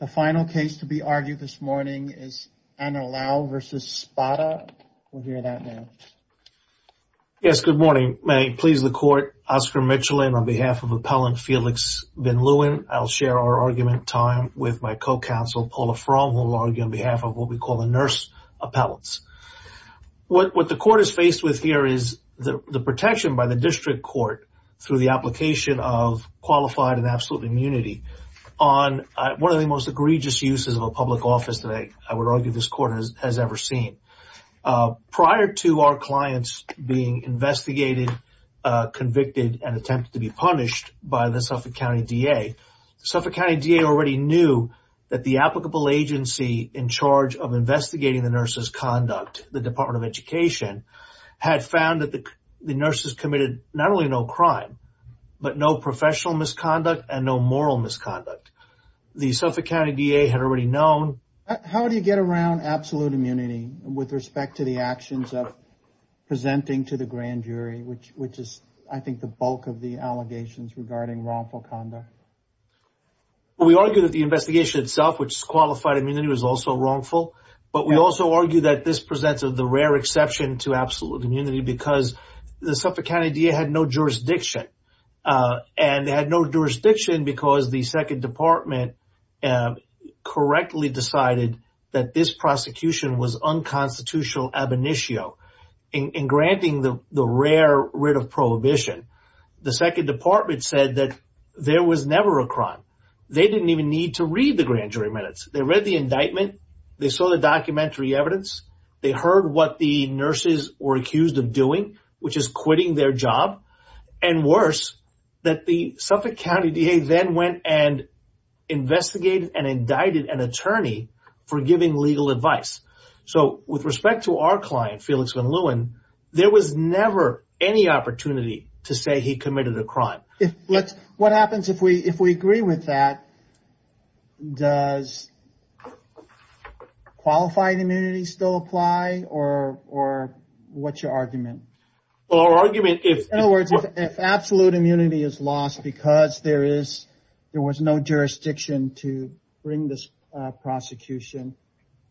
The final case to be argued this morning is Anilao v. Spota. We'll hear that now. Yes, good morning. May I please the court, Oscar Michelin on behalf of appellant Felix Van Leeuwen. I'll share our argument time with my co-counsel Paula Fromm, who will argue on behalf of what we call the nurse appellants. What the court is faced with here is the protection by the district court through the application of egregious uses of a public office that I would argue this court has ever seen. Prior to our clients being investigated, convicted, and attempted to be punished by the Suffolk County D.A., Suffolk County D.A. already knew that the applicable agency in charge of investigating the nurse's conduct, the Department of Education, had found that the nurses committed not only no crime, but no professional misconduct and no moral misconduct. The Suffolk County D.A. had already known. How do you get around absolute immunity with respect to the actions of presenting to the grand jury, which is, I think, the bulk of the allegations regarding wrongful conduct? We argue that the investigation itself, which is qualified immunity, was also wrongful, but we also argue that this presents the rare exception to absolute immunity because the Suffolk County D.A. had no jurisdiction, and they had no jurisdiction because the Second Department correctly decided that this prosecution was unconstitutional ab initio in granting the rare writ of prohibition. The Second Department said that there was never a crime. They didn't even need to read the grand jury minutes. They read the indictment. They saw the documentary evidence. They heard what the nurses were accused of doing, which is quitting their job, and worse, that the Suffolk County D.A. then went and investigated and indicted an attorney for giving legal advice. So with respect to our client, Felix Van Leeuwen, there was never any opportunity to say he committed a crime. What happens if we agree with that? Does the qualified immunity still apply, or what's your argument? In other words, if absolute immunity is lost because there was no jurisdiction to bring this prosecution,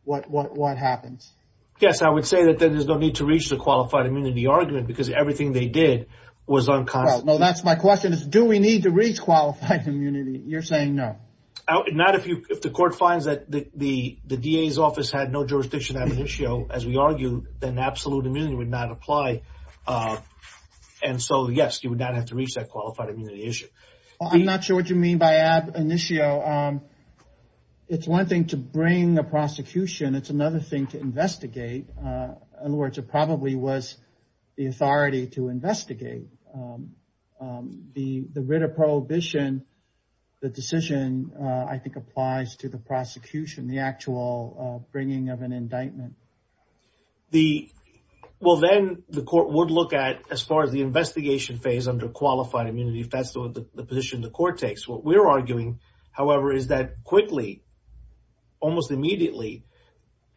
what happens? Yes, I would say that there's no need to reach the qualified immunity argument because everything they did was unconstitutional. No, that's my question. Do we need to reach qualified immunity? You're saying no. Not if the court finds that the D.A.'s office had no jurisdiction ab initio, as we argued, then absolute immunity would not apply. And so, yes, you would not have to reach that qualified immunity issue. I'm not sure what you mean by ab initio. It's one thing to bring a prosecution. It's another thing to investigate. In other words, it probably was the authority to investigate. The writ of prohibition, the decision, I think, applies to the prosecution, the actual bringing of an indictment. Well, then the court would look at, as far as the investigation phase under qualified immunity, if that's the position the court takes. What we're arguing, however, is that quickly, almost immediately,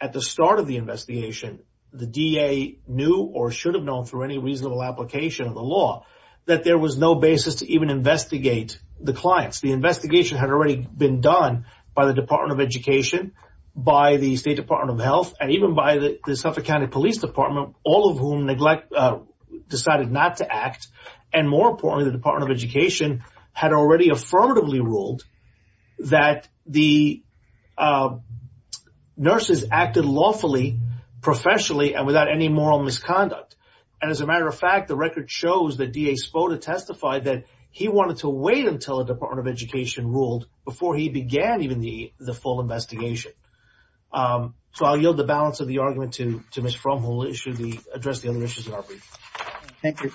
at the start of the investigation, the D.A. knew or should have known, through any reasonable application of the law, that there was no basis to even investigate the clients. The investigation had already been done by the Department of Education, by the State Department of Health, and even by the Suffolk County Police Department, all of whom decided not to act. And more importantly, the Department of without any moral misconduct. And as a matter of fact, the record shows that D.A. Spoda testified that he wanted to wait until the Department of Education ruled before he began even the full investigation. So I'll yield the balance of the argument to Ms. Fromm, who will address the other issues in our brief. Thank you.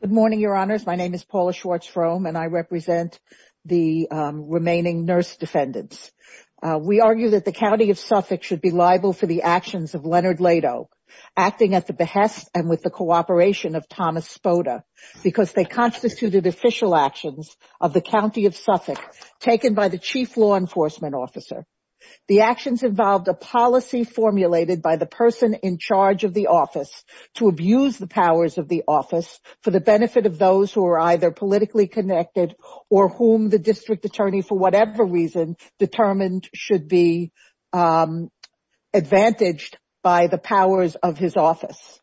Good morning, Your Honors. My name is Paula Schwartz Fromm, and I represent the remaining nurse defendants. We argue that the County of Suffolk should be responsible for the actions of Leonard Leto, acting at the behest and with the cooperation of Thomas Spoda, because they constituted official actions of the County of Suffolk, taken by the Chief Law Enforcement Officer. The actions involved a policy formulated by the person in charge of the office to abuse the powers of the office for the benefit of those who are either politically connected or whom the District Attorney, for whatever reason, determined should be by the powers of his office.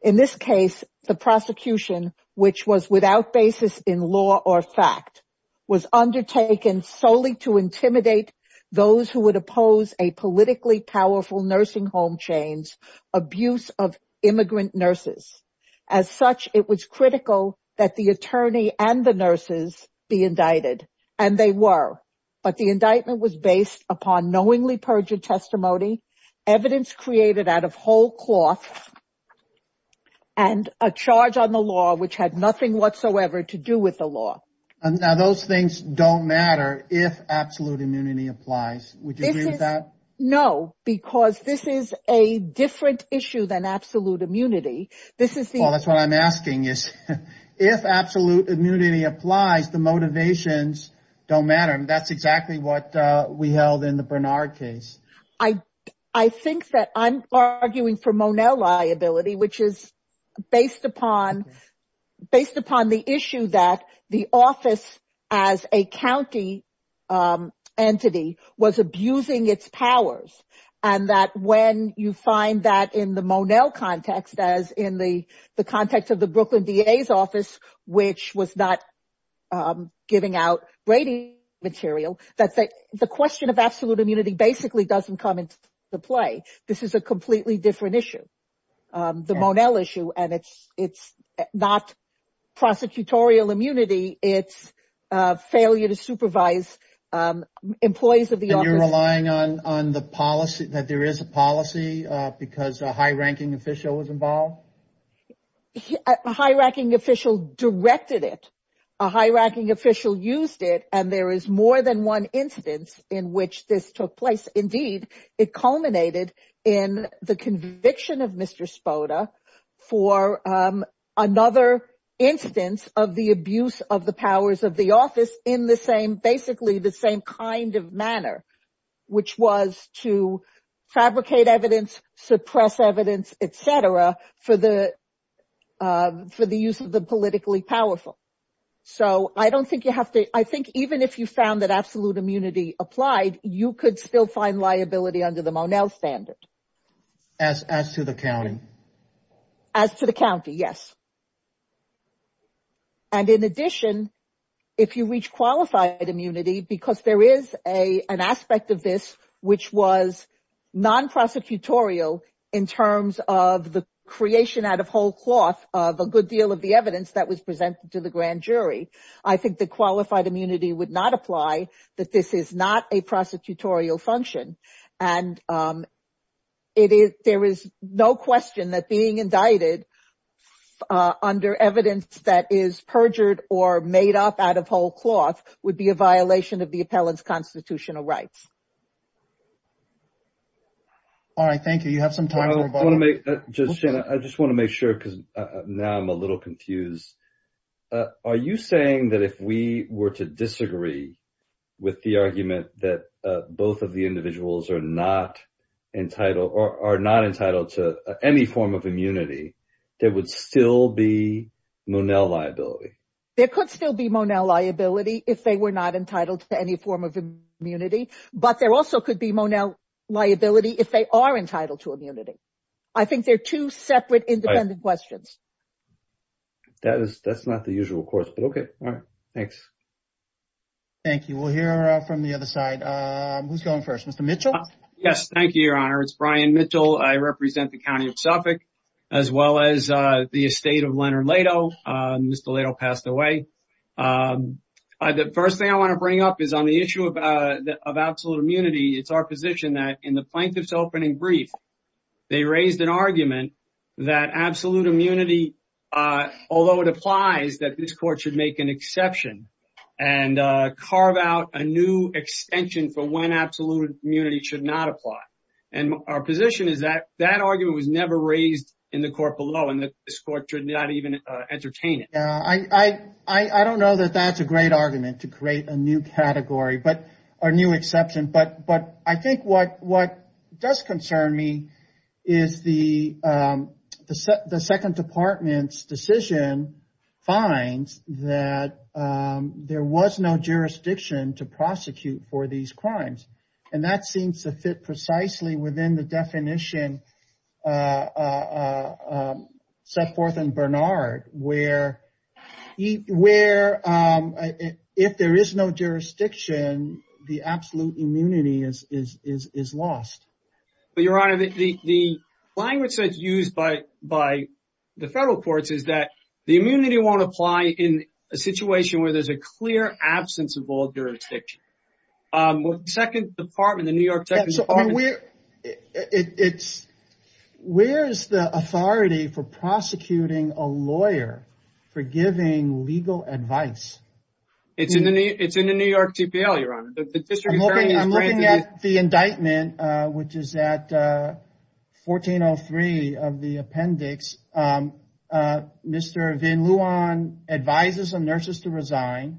In this case, the prosecution, which was without basis in law or fact, was undertaken solely to intimidate those who would oppose a politically powerful nursing home chain's abuse of immigrant nurses. As such, it was critical that the attorney and the nurses be indicted. And they were. But the indictment was based upon knowingly perjured testimony, evidence created out of whole cloth, and a charge on the law which had nothing whatsoever to do with the law. And now those things don't matter if absolute immunity applies. Would you agree with that? No, because this is a different issue than absolute immunity. This is the... Well, that's what I'm asking is, if absolute immunity applies, the motivations don't matter. And that's exactly what we held in the Bernard case. I think that I'm arguing for Monell liability, which is based upon the issue that the office as a county entity was abusing its powers. And that when you find that in the Monell context, in the context of the Brooklyn DA's office, which was not giving out rating material, that the question of absolute immunity basically doesn't come into play. This is a completely different issue, the Monell issue. And it's not prosecutorial immunity, it's failure to supervise employees of the office. And you're relying on the policy, that there is a policy because a high-ranking official was involved? A high-ranking official directed it, a high-ranking official used it, and there is more than one instance in which this took place. Indeed, it culminated in the conviction of Mr. Spoda for another instance of the abuse of the powers of the office in basically the same kind of manner, which was to fabricate evidence, suppress evidence, et cetera, for the use of the politically powerful. So I don't think you have to, I think even if you found that absolute immunity applied, you could still find liability under the Monell standard. As to the county? As to the county, yes. And in addition, if you reach qualified immunity, because there is an aspect of this which was non-prosecutorial in terms of the creation out of whole cloth of a good deal of the evidence that was presented to the grand jury, I think the qualified immunity would not apply, that this is not a prosecutorial function. And there is no question that being indicted under evidence that is perjured or made up out of whole cloth would be a violation of the constitutional rights. All right, thank you. You have some time for a vote. I just want to make sure because now I'm a little confused. Are you saying that if we were to disagree with the argument that both of the individuals are not entitled to any form of immunity, there would still be Monell liability? There could still be Monell liability if they were not entitled to any form of immunity, but there also could be Monell liability if they are entitled to immunity. I think they're two separate independent questions. That's not the usual course, but okay. All right, thanks. Thank you. We'll hear from the other side. Who's going first? Mr. Mitchell? Yes, thank you, Your Honor. It's Brian Mitchell. I represent the county of Suffolk, as well as the estate of Leonard Leto. Mr. Leto passed away. The first thing I want to bring up is on the issue of absolute immunity. It's our position that in the plaintiff's opening brief, they raised an argument that absolute immunity, although it applies that this court should make an exception and carve out a new extension for absolute immunity, should not apply. Our position is that that argument was never raised in the court below, and this court should not even entertain it. I don't know that that's a great argument to create a new category or new exception, but I think what does concern me is the second department's decision finds that there was no jurisdiction to prosecute for these crimes. That seems to fit precisely within the definition set forth in Bernard, where if there is no jurisdiction, the absolute immunity is lost. Your Honor, the language that's used by the federal courts is that the immunity won't apply in a situation where there's a clear absence of all jurisdiction. Where's the authority for prosecuting a lawyer for giving legal advice? It's in the New York TPL, Your Honor. I'm looking at the indictment, which is at advisers and nurses to resign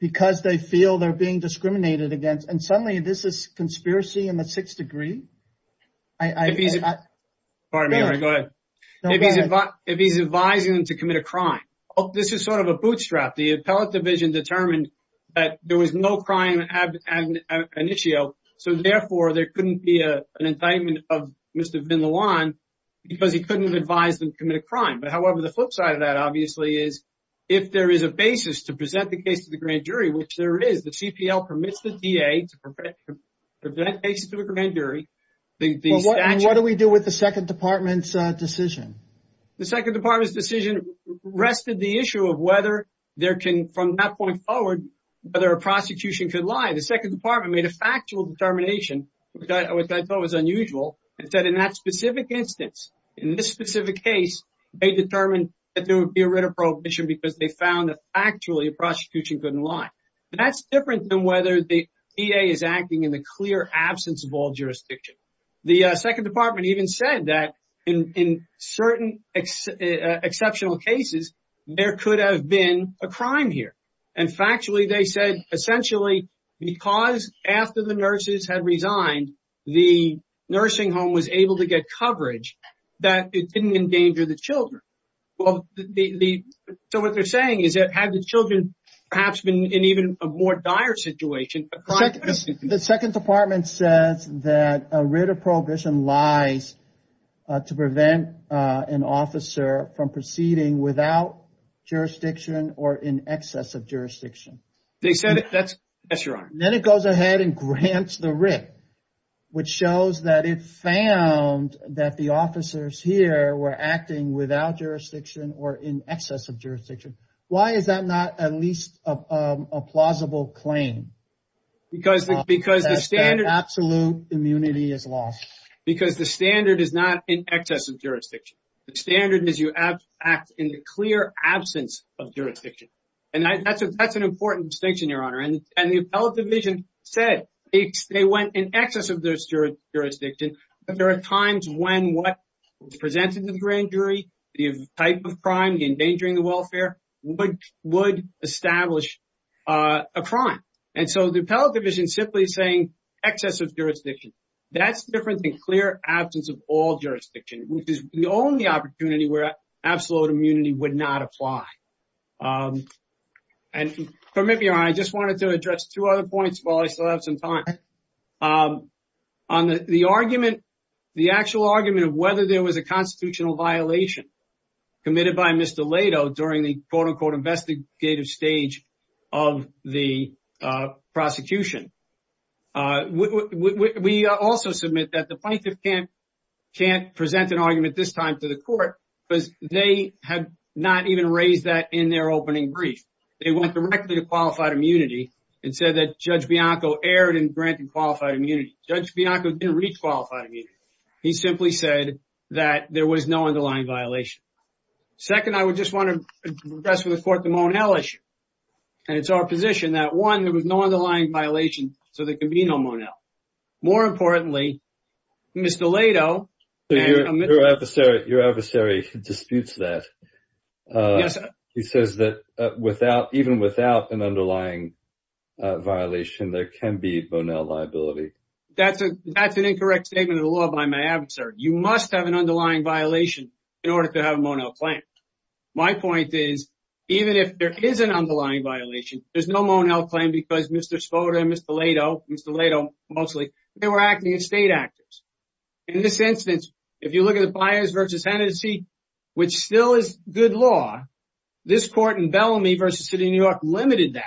because they feel they're being discriminated against. Suddenly, this is a conspiracy in the sixth degree. If he's advising them to commit a crime, this is a bootstrap. The appellate division determined that there was no crime at the time. Therefore, there couldn't be an indictment of Mr. Vindeland because he couldn't advise them to commit a crime. However, the flip side of that obviously is if there is a basis to present the case to the grand jury, which there is. The CPL permits the DA to present cases to the grand jury. What do we do with the second department's decision? The second department's decision rested the issue of whether there can, from that point forward, whether a prosecution could lie. The second department made a factual determination, which I thought was unusual, and said in that specific instance, in this specific case, they determined that there would be a writ of prohibition because they found that actually a prosecution couldn't lie. That's different than whether the DA is acting in the clear absence of jurisdiction. The second department even said that in certain exceptional cases, there could have been a crime here. Factually, they said, essentially, because after the nurses had resigned, the nursing home was able to get coverage, that it didn't endanger the children. So what they're saying is that had the children perhaps been in even a more dire situation... The second department says that a writ of prohibition lies to prevent an officer from proceeding without jurisdiction or in excess of jurisdiction. Then it goes ahead and grants the writ, which shows that it found that the officers here were acting without jurisdiction or in excess of jurisdiction. Why is that not at least a plausible claim? Because the absolute immunity is lost. Because the standard is not in excess of jurisdiction. The standard is you act in the clear absence of jurisdiction. That's an important distinction, Your Honour. The appellate division said they went in excess of their jurisdiction. There are times when what was presented to the grand jury, the type of crime endangering the And so the appellate division is simply saying excess of jurisdiction. That's different than clear absence of all jurisdiction, which is the only opportunity where absolute immunity would not apply. And permit me, Your Honour, I just wanted to address two other points while I still have some time. On the argument, the actual argument of whether there was a constitutional violation committed by Mr. Leto during the quote-unquote investigative stage of the prosecution. We also submit that the plaintiff can't present an argument this time to the court because they have not even raised that in their opening brief. They went directly to qualified immunity and said that Judge Bianco erred in granting qualified immunity. Judge Bianco didn't reach qualified immunity. He simply said that there was no underlying violation. Second, I would just want to address with the court the Monell issue. And it's our position that, one, there was no underlying violation, so there can be no Monell. More importantly, Mr. Leto. Your adversary disputes that. He says that even without an underlying violation there can be Monell liability. That's an incorrect statement of the law by my adversary. You must have an underlying violation in order to have a Monell claim. My point is, even if there is an underlying violation, there's no Monell claim because Mr. Spoda and Mr. Leto, Mr. Leto mostly, were acting as state actors. In this instance, if you look at the Fires v. Hennessey, which still is good law, this court in Bellamy v. City of New York limited that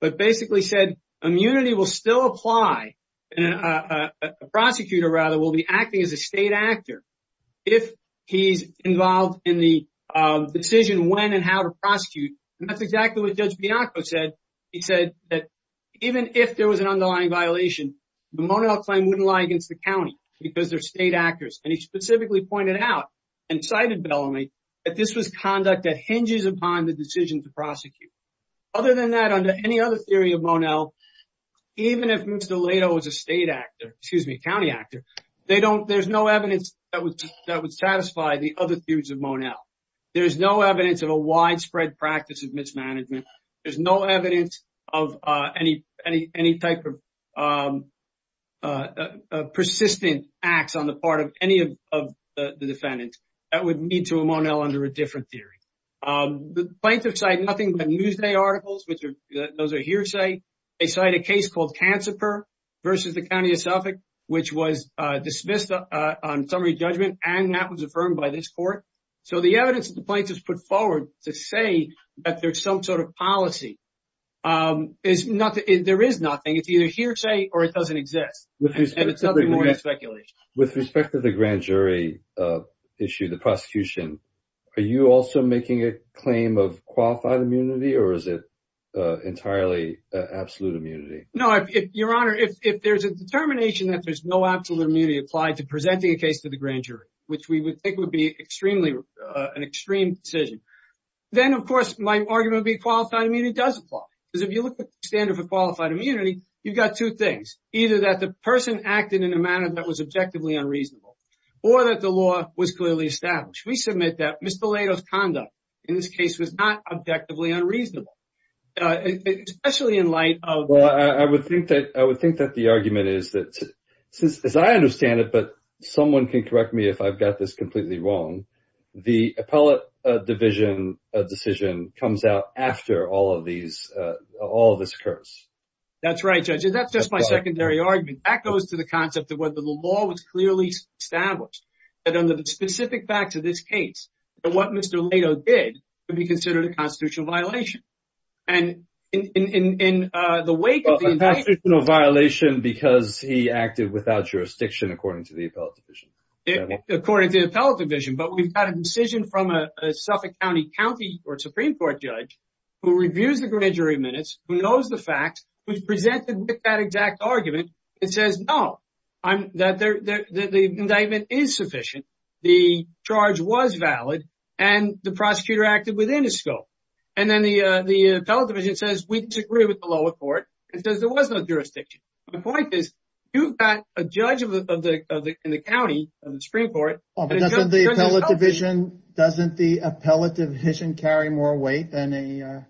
but basically said immunity will still apply and a prosecutor, rather, will be acting as a state actor if he's involved in the decision when and how to prosecute. And that's exactly what Judge Bianco said. He said that even if there was an underlying violation, the Monell claim wouldn't lie against the county because they're state actors. And he specifically pointed out and cited Bellamy that this was conduct that hinges upon the decision to prosecute. Other than that, under any other theory of Monell, even if Mr. Leto was a state actor, excuse me, a county actor, there's no evidence that would satisfy the other theories of Monell. There's no evidence of a widespread practice of mismanagement. There's no evidence of any type of persistent acts on the part of any of the defendants. That would lead to a Monell under a different theory. The plaintiffs cite nothing but Newsday versus the county of Suffolk, which was dismissed on summary judgment and that was affirmed by this court. So the evidence that the plaintiffs put forward to say that there's some sort of policy, there is nothing. It's either hearsay or it doesn't exist. And it's nothing more than speculation. With respect to the grand jury issue, the prosecution, are you also making a claim of qualified immunity or is it entirely absolute immunity? No, your honor, if there's a determination that there's no absolute immunity applied to presenting a case to the grand jury, which we would think would be an extreme decision, then of course my argument would be qualified immunity does apply. Because if you look at the standard for qualified immunity, you've got two things. Either that the person acted in a manner that was objectively unreasonable, or that the law was clearly established. We submit that Mr. Lato's conduct in this case was not objectively unreasonable, especially in light of... Well, I would think that the argument is that, as I understand it, but someone can correct me if I've got this completely wrong, the appellate division decision comes out after all of this occurs. That's right, Judge. That's just my secondary argument. That goes to the concept of whether the law was clearly established, that under the specific facts of this case, that what Mr. Lato did would be considered a constitutional violation. And in the wake of the indictment... A constitutional violation because he acted without jurisdiction, according to the appellate division. According to the appellate division, but we've got a decision from a Suffolk County County or Supreme Court judge who reviews the grand jury minutes, who knows the facts, who's presented with that exact argument and says, no, that the indictment is sufficient, the charge was valid, and the prosecutor acted within his scope. And then the appellate division says, we disagree with the lower court, and says there was no jurisdiction. The point is, you've got a judge in the county of the Supreme Court... Doesn't the appellate division carry more weight than a Supreme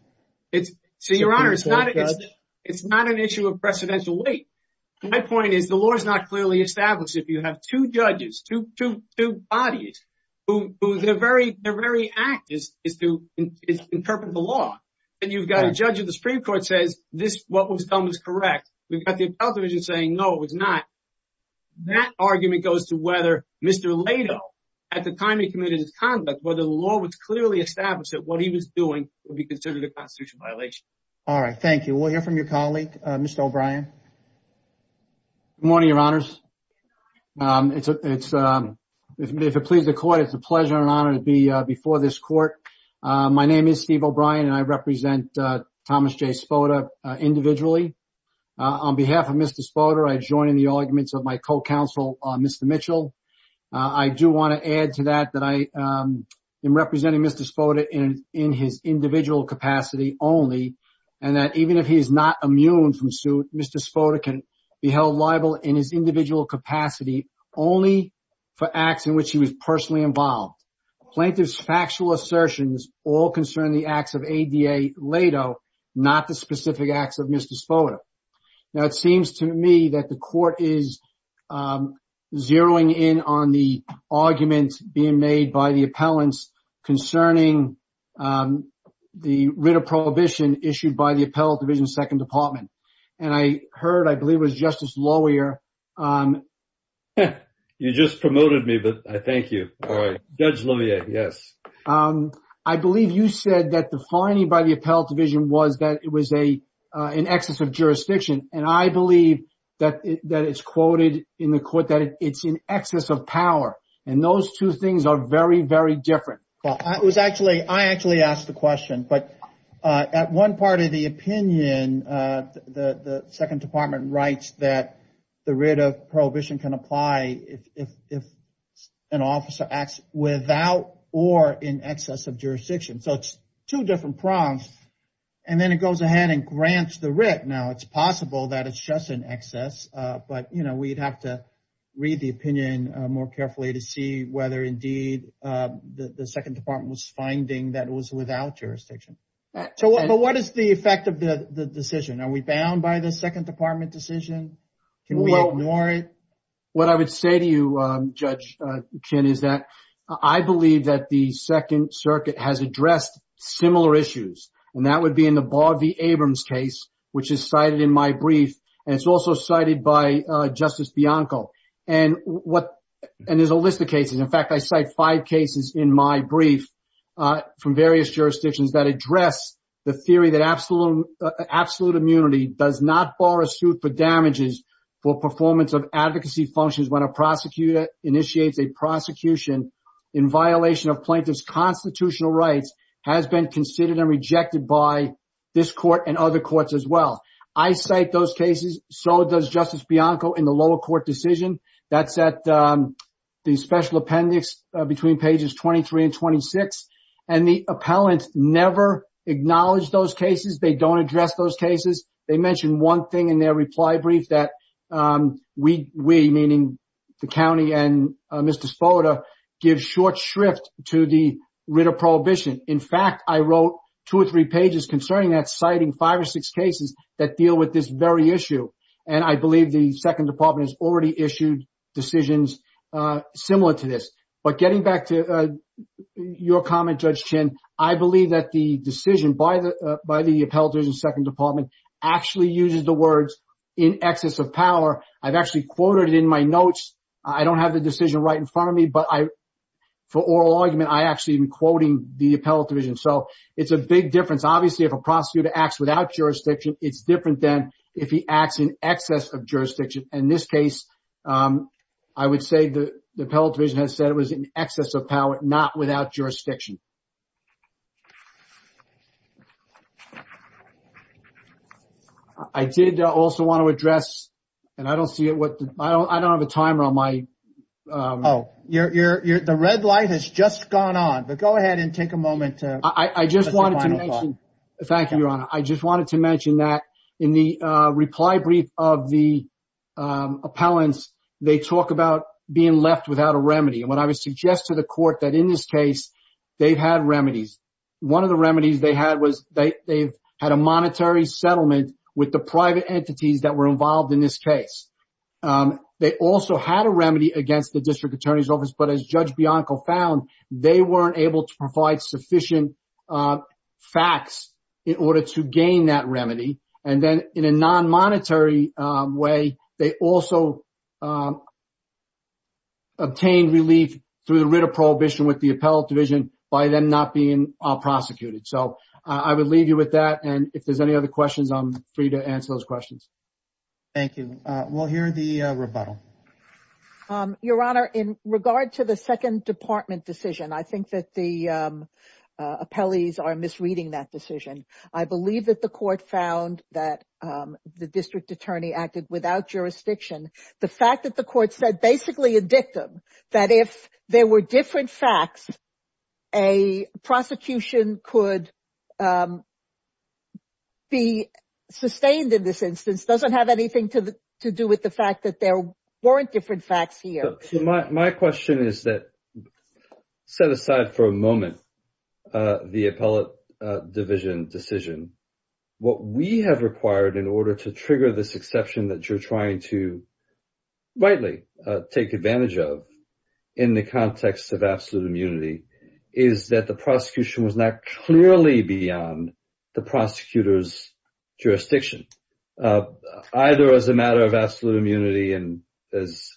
Court judge? So, Your Honor, it's not an issue of precedential weight. My point is, the law is not clearly established if you have two judges, two bodies, who their very act is to interpret the law. And you've got a judge of the Supreme Court says, what was done was correct. We've got the appellate division saying, no, it was not. That argument goes to whether Mr. Lato, at the time he committed his conduct, whether the law was clearly established that what he was doing would be All right. Thank you. We'll hear from your colleague, Mr. O'Brien. Good morning, Your Honors. If it pleases the court, it's a pleasure and honor to be before this court. My name is Steve O'Brien and I represent Thomas J. Spoda individually. On behalf of Mr. Spoda, I join in the arguments of my co-counsel, Mr. Mitchell. I do want to add that I am representing Mr. Spoda in his individual capacity only and that even if he is not immune from suit, Mr. Spoda can be held liable in his individual capacity only for acts in which he was personally involved. Plaintiff's factual assertions all concern the acts of A.D.A. Lato, not the specific acts of Mr. Spoda. Now, it seems to me that the court is zeroing in on the arguments being made by the appellants concerning the writ of prohibition issued by the Appellate Division, Second Department. And I heard, I believe it was Justice Lawyer. You just promoted me, but I thank you. All right. Judge Levier, yes. I believe you said that the finding by the Appellate Division was that it was in excess of jurisdiction. And I believe that it's quoted in the court that it's in excess of power. And those two things are very, very different. Well, I actually asked the question, but at one part of the opinion, the Second Department writes that the writ of prohibition can apply if an officer acts without or in excess of jurisdiction. So it's two different prompts. And then it goes ahead and grants the writ. Now, it's possible that it's just in excess, but, you know, we'd have to read the opinion more carefully to see whether indeed the Second Department was finding that it was without jurisdiction. So what is the effect of the decision? Are we bound by the Second Department decision? Can we ignore it? What I would say to you, Judge Chin, is that I believe that the Second Circuit has addressed similar issues. And that would be in the Barr v. Abrams case, which is cited in my brief, and it's also cited by Justice Bianco. And there's a list of cases. In fact, I cite five cases in my brief from various jurisdictions that address the theory that absolute immunity does not bar a suit for damages for performance of advocacy functions when a prosecutor initiates a prosecution in violation of plaintiff's constitutional rights has been considered and rejected by this court and other courts as well. I cite those cases. So does Justice Bianco in the lower court decision. That's at the special appendix between pages 23 and 26. And the appellant never acknowledged those cases. They don't address those cases. They mentioned one in their reply brief that we, meaning the county and Mr. Spoda, give short shrift to the writ of prohibition. In fact, I wrote two or three pages concerning that, citing five or six cases that deal with this very issue. And I believe the Second Department has already issued decisions similar to this. But getting back to your comment, Judge Chin, I believe that the decision by the Appellate Division, Second Department, actually uses the words in excess of power. I've actually quoted it in my notes. I don't have the decision right in front of me. But for oral argument, I actually am quoting the Appellate Division. So it's a big difference. Obviously, if a prosecutor acts without jurisdiction, it's different than if he acts in excess of jurisdiction. In this case, I would say the Appellate Division has said it was in excess of power, not without jurisdiction. I did also want to address, and I don't see it, I don't have a timer on my... Oh, the red light has just gone on. But go ahead and take a moment to... Thank you, Your Honor. I just wanted to mention that in the reply brief of the remedy, and what I would suggest to the court that in this case, they've had remedies. One of the remedies they had was they've had a monetary settlement with the private entities that were involved in this case. They also had a remedy against the District Attorney's Office. But as Judge Bianco found, they weren't able to provide sufficient facts in order to gain that remedy. And then in a non-monetary way, they also obtained relief through the writ of prohibition with the Appellate Division by them not being prosecuted. So I would leave you with that. And if there's any other questions, I'm free to answer those questions. Thank you. We'll hear the rebuttal. Your Honor, in regard to the Second Department decision, I think that the found that the District Attorney acted without jurisdiction. The fact that the court said basically a dictum, that if there were different facts, a prosecution could be sustained in this instance, doesn't have anything to do with the fact that there weren't different facts here. My question is that, set aside for a moment, the Appellate Division decision, what we have required in order to trigger this exception that you're trying to rightly take advantage of in the context of absolute immunity is that the prosecution was not clearly beyond the prosecutor's jurisdiction, either as a matter of absolute immunity and, as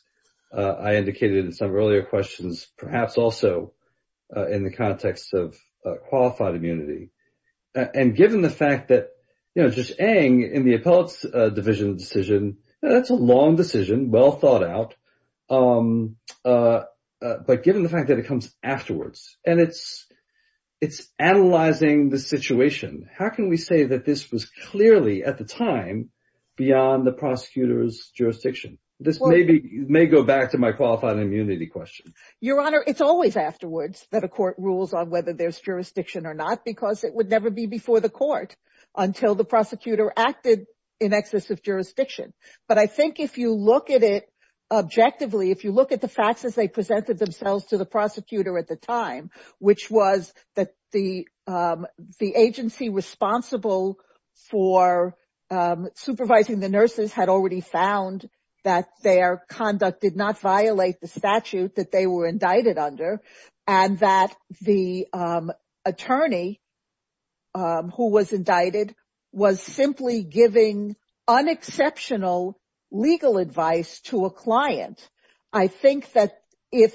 I indicated in some earlier questions, perhaps also in the context of qualified immunity. And given the fact that, you know, just, Aang, in the Appellate Division decision, that's a long decision, well thought out, but given the fact that it comes afterwards and it's analyzing the situation, how can we say that this was clearly, at the time, beyond the prosecutor's jurisdiction? This may go back to my qualified immunity question. Your Honor, it's always afterwards that a court rules on whether there's jurisdiction or not, because it would never be before the court until the prosecutor acted in excess of jurisdiction. But I think if you look at it objectively, if you look at the facts as they presented themselves to the prosecutor at the time, which was that the agency responsible for supervising the nurses had already found that their conduct did not violate the statute that they were indicted under, and that the attorney who was indicted was simply giving unexceptional legal advice to a client, I think that if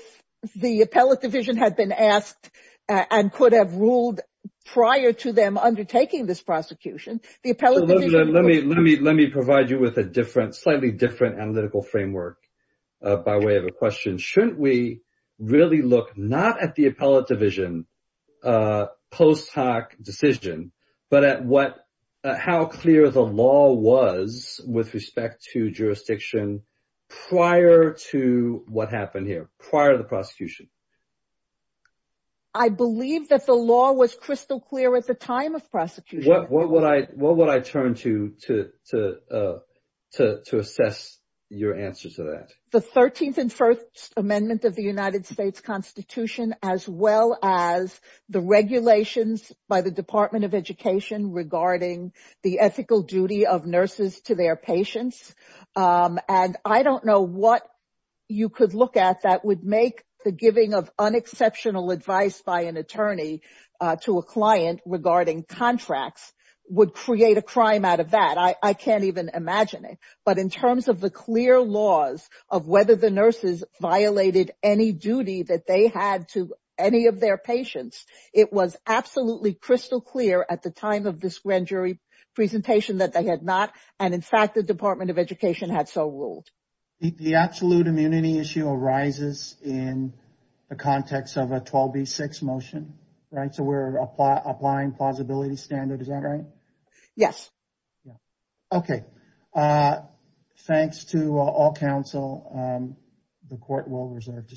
the Appellate Division had been asked and could have ruled prior to them undertaking this prosecution, the Appellate Division— Let me provide you with a slightly different analytical framework by way of a question. Shouldn't we really look not at the Appellate Division post hoc decision, but at how clear the law was with respect to jurisdiction prior to what happened here, prior to the prosecution? I believe that the law was crystal clear at the time of prosecution. What would I turn to assess your answer to that? The 13th and First Amendment of the United States Constitution, as well as the regulations by the Department of Education regarding the ethical duty of nurses to their patients. I don't know what you could look at that would make the giving of unexceptional advice by an attorney to a client regarding contracts would create a crime out of that. I can't even imagine it. But in terms of the clear laws of whether the nurses violated any duty that they had to their patients, it was absolutely crystal clear at the time of this grand jury presentation that they had not. And in fact, the Department of Education had so ruled. The absolute immunity issue arises in the context of a 12B6 motion, right? So, we're applying plausibility standard. Is that right? Yes. Okay. Thanks to all counsel. The court will reserve to say.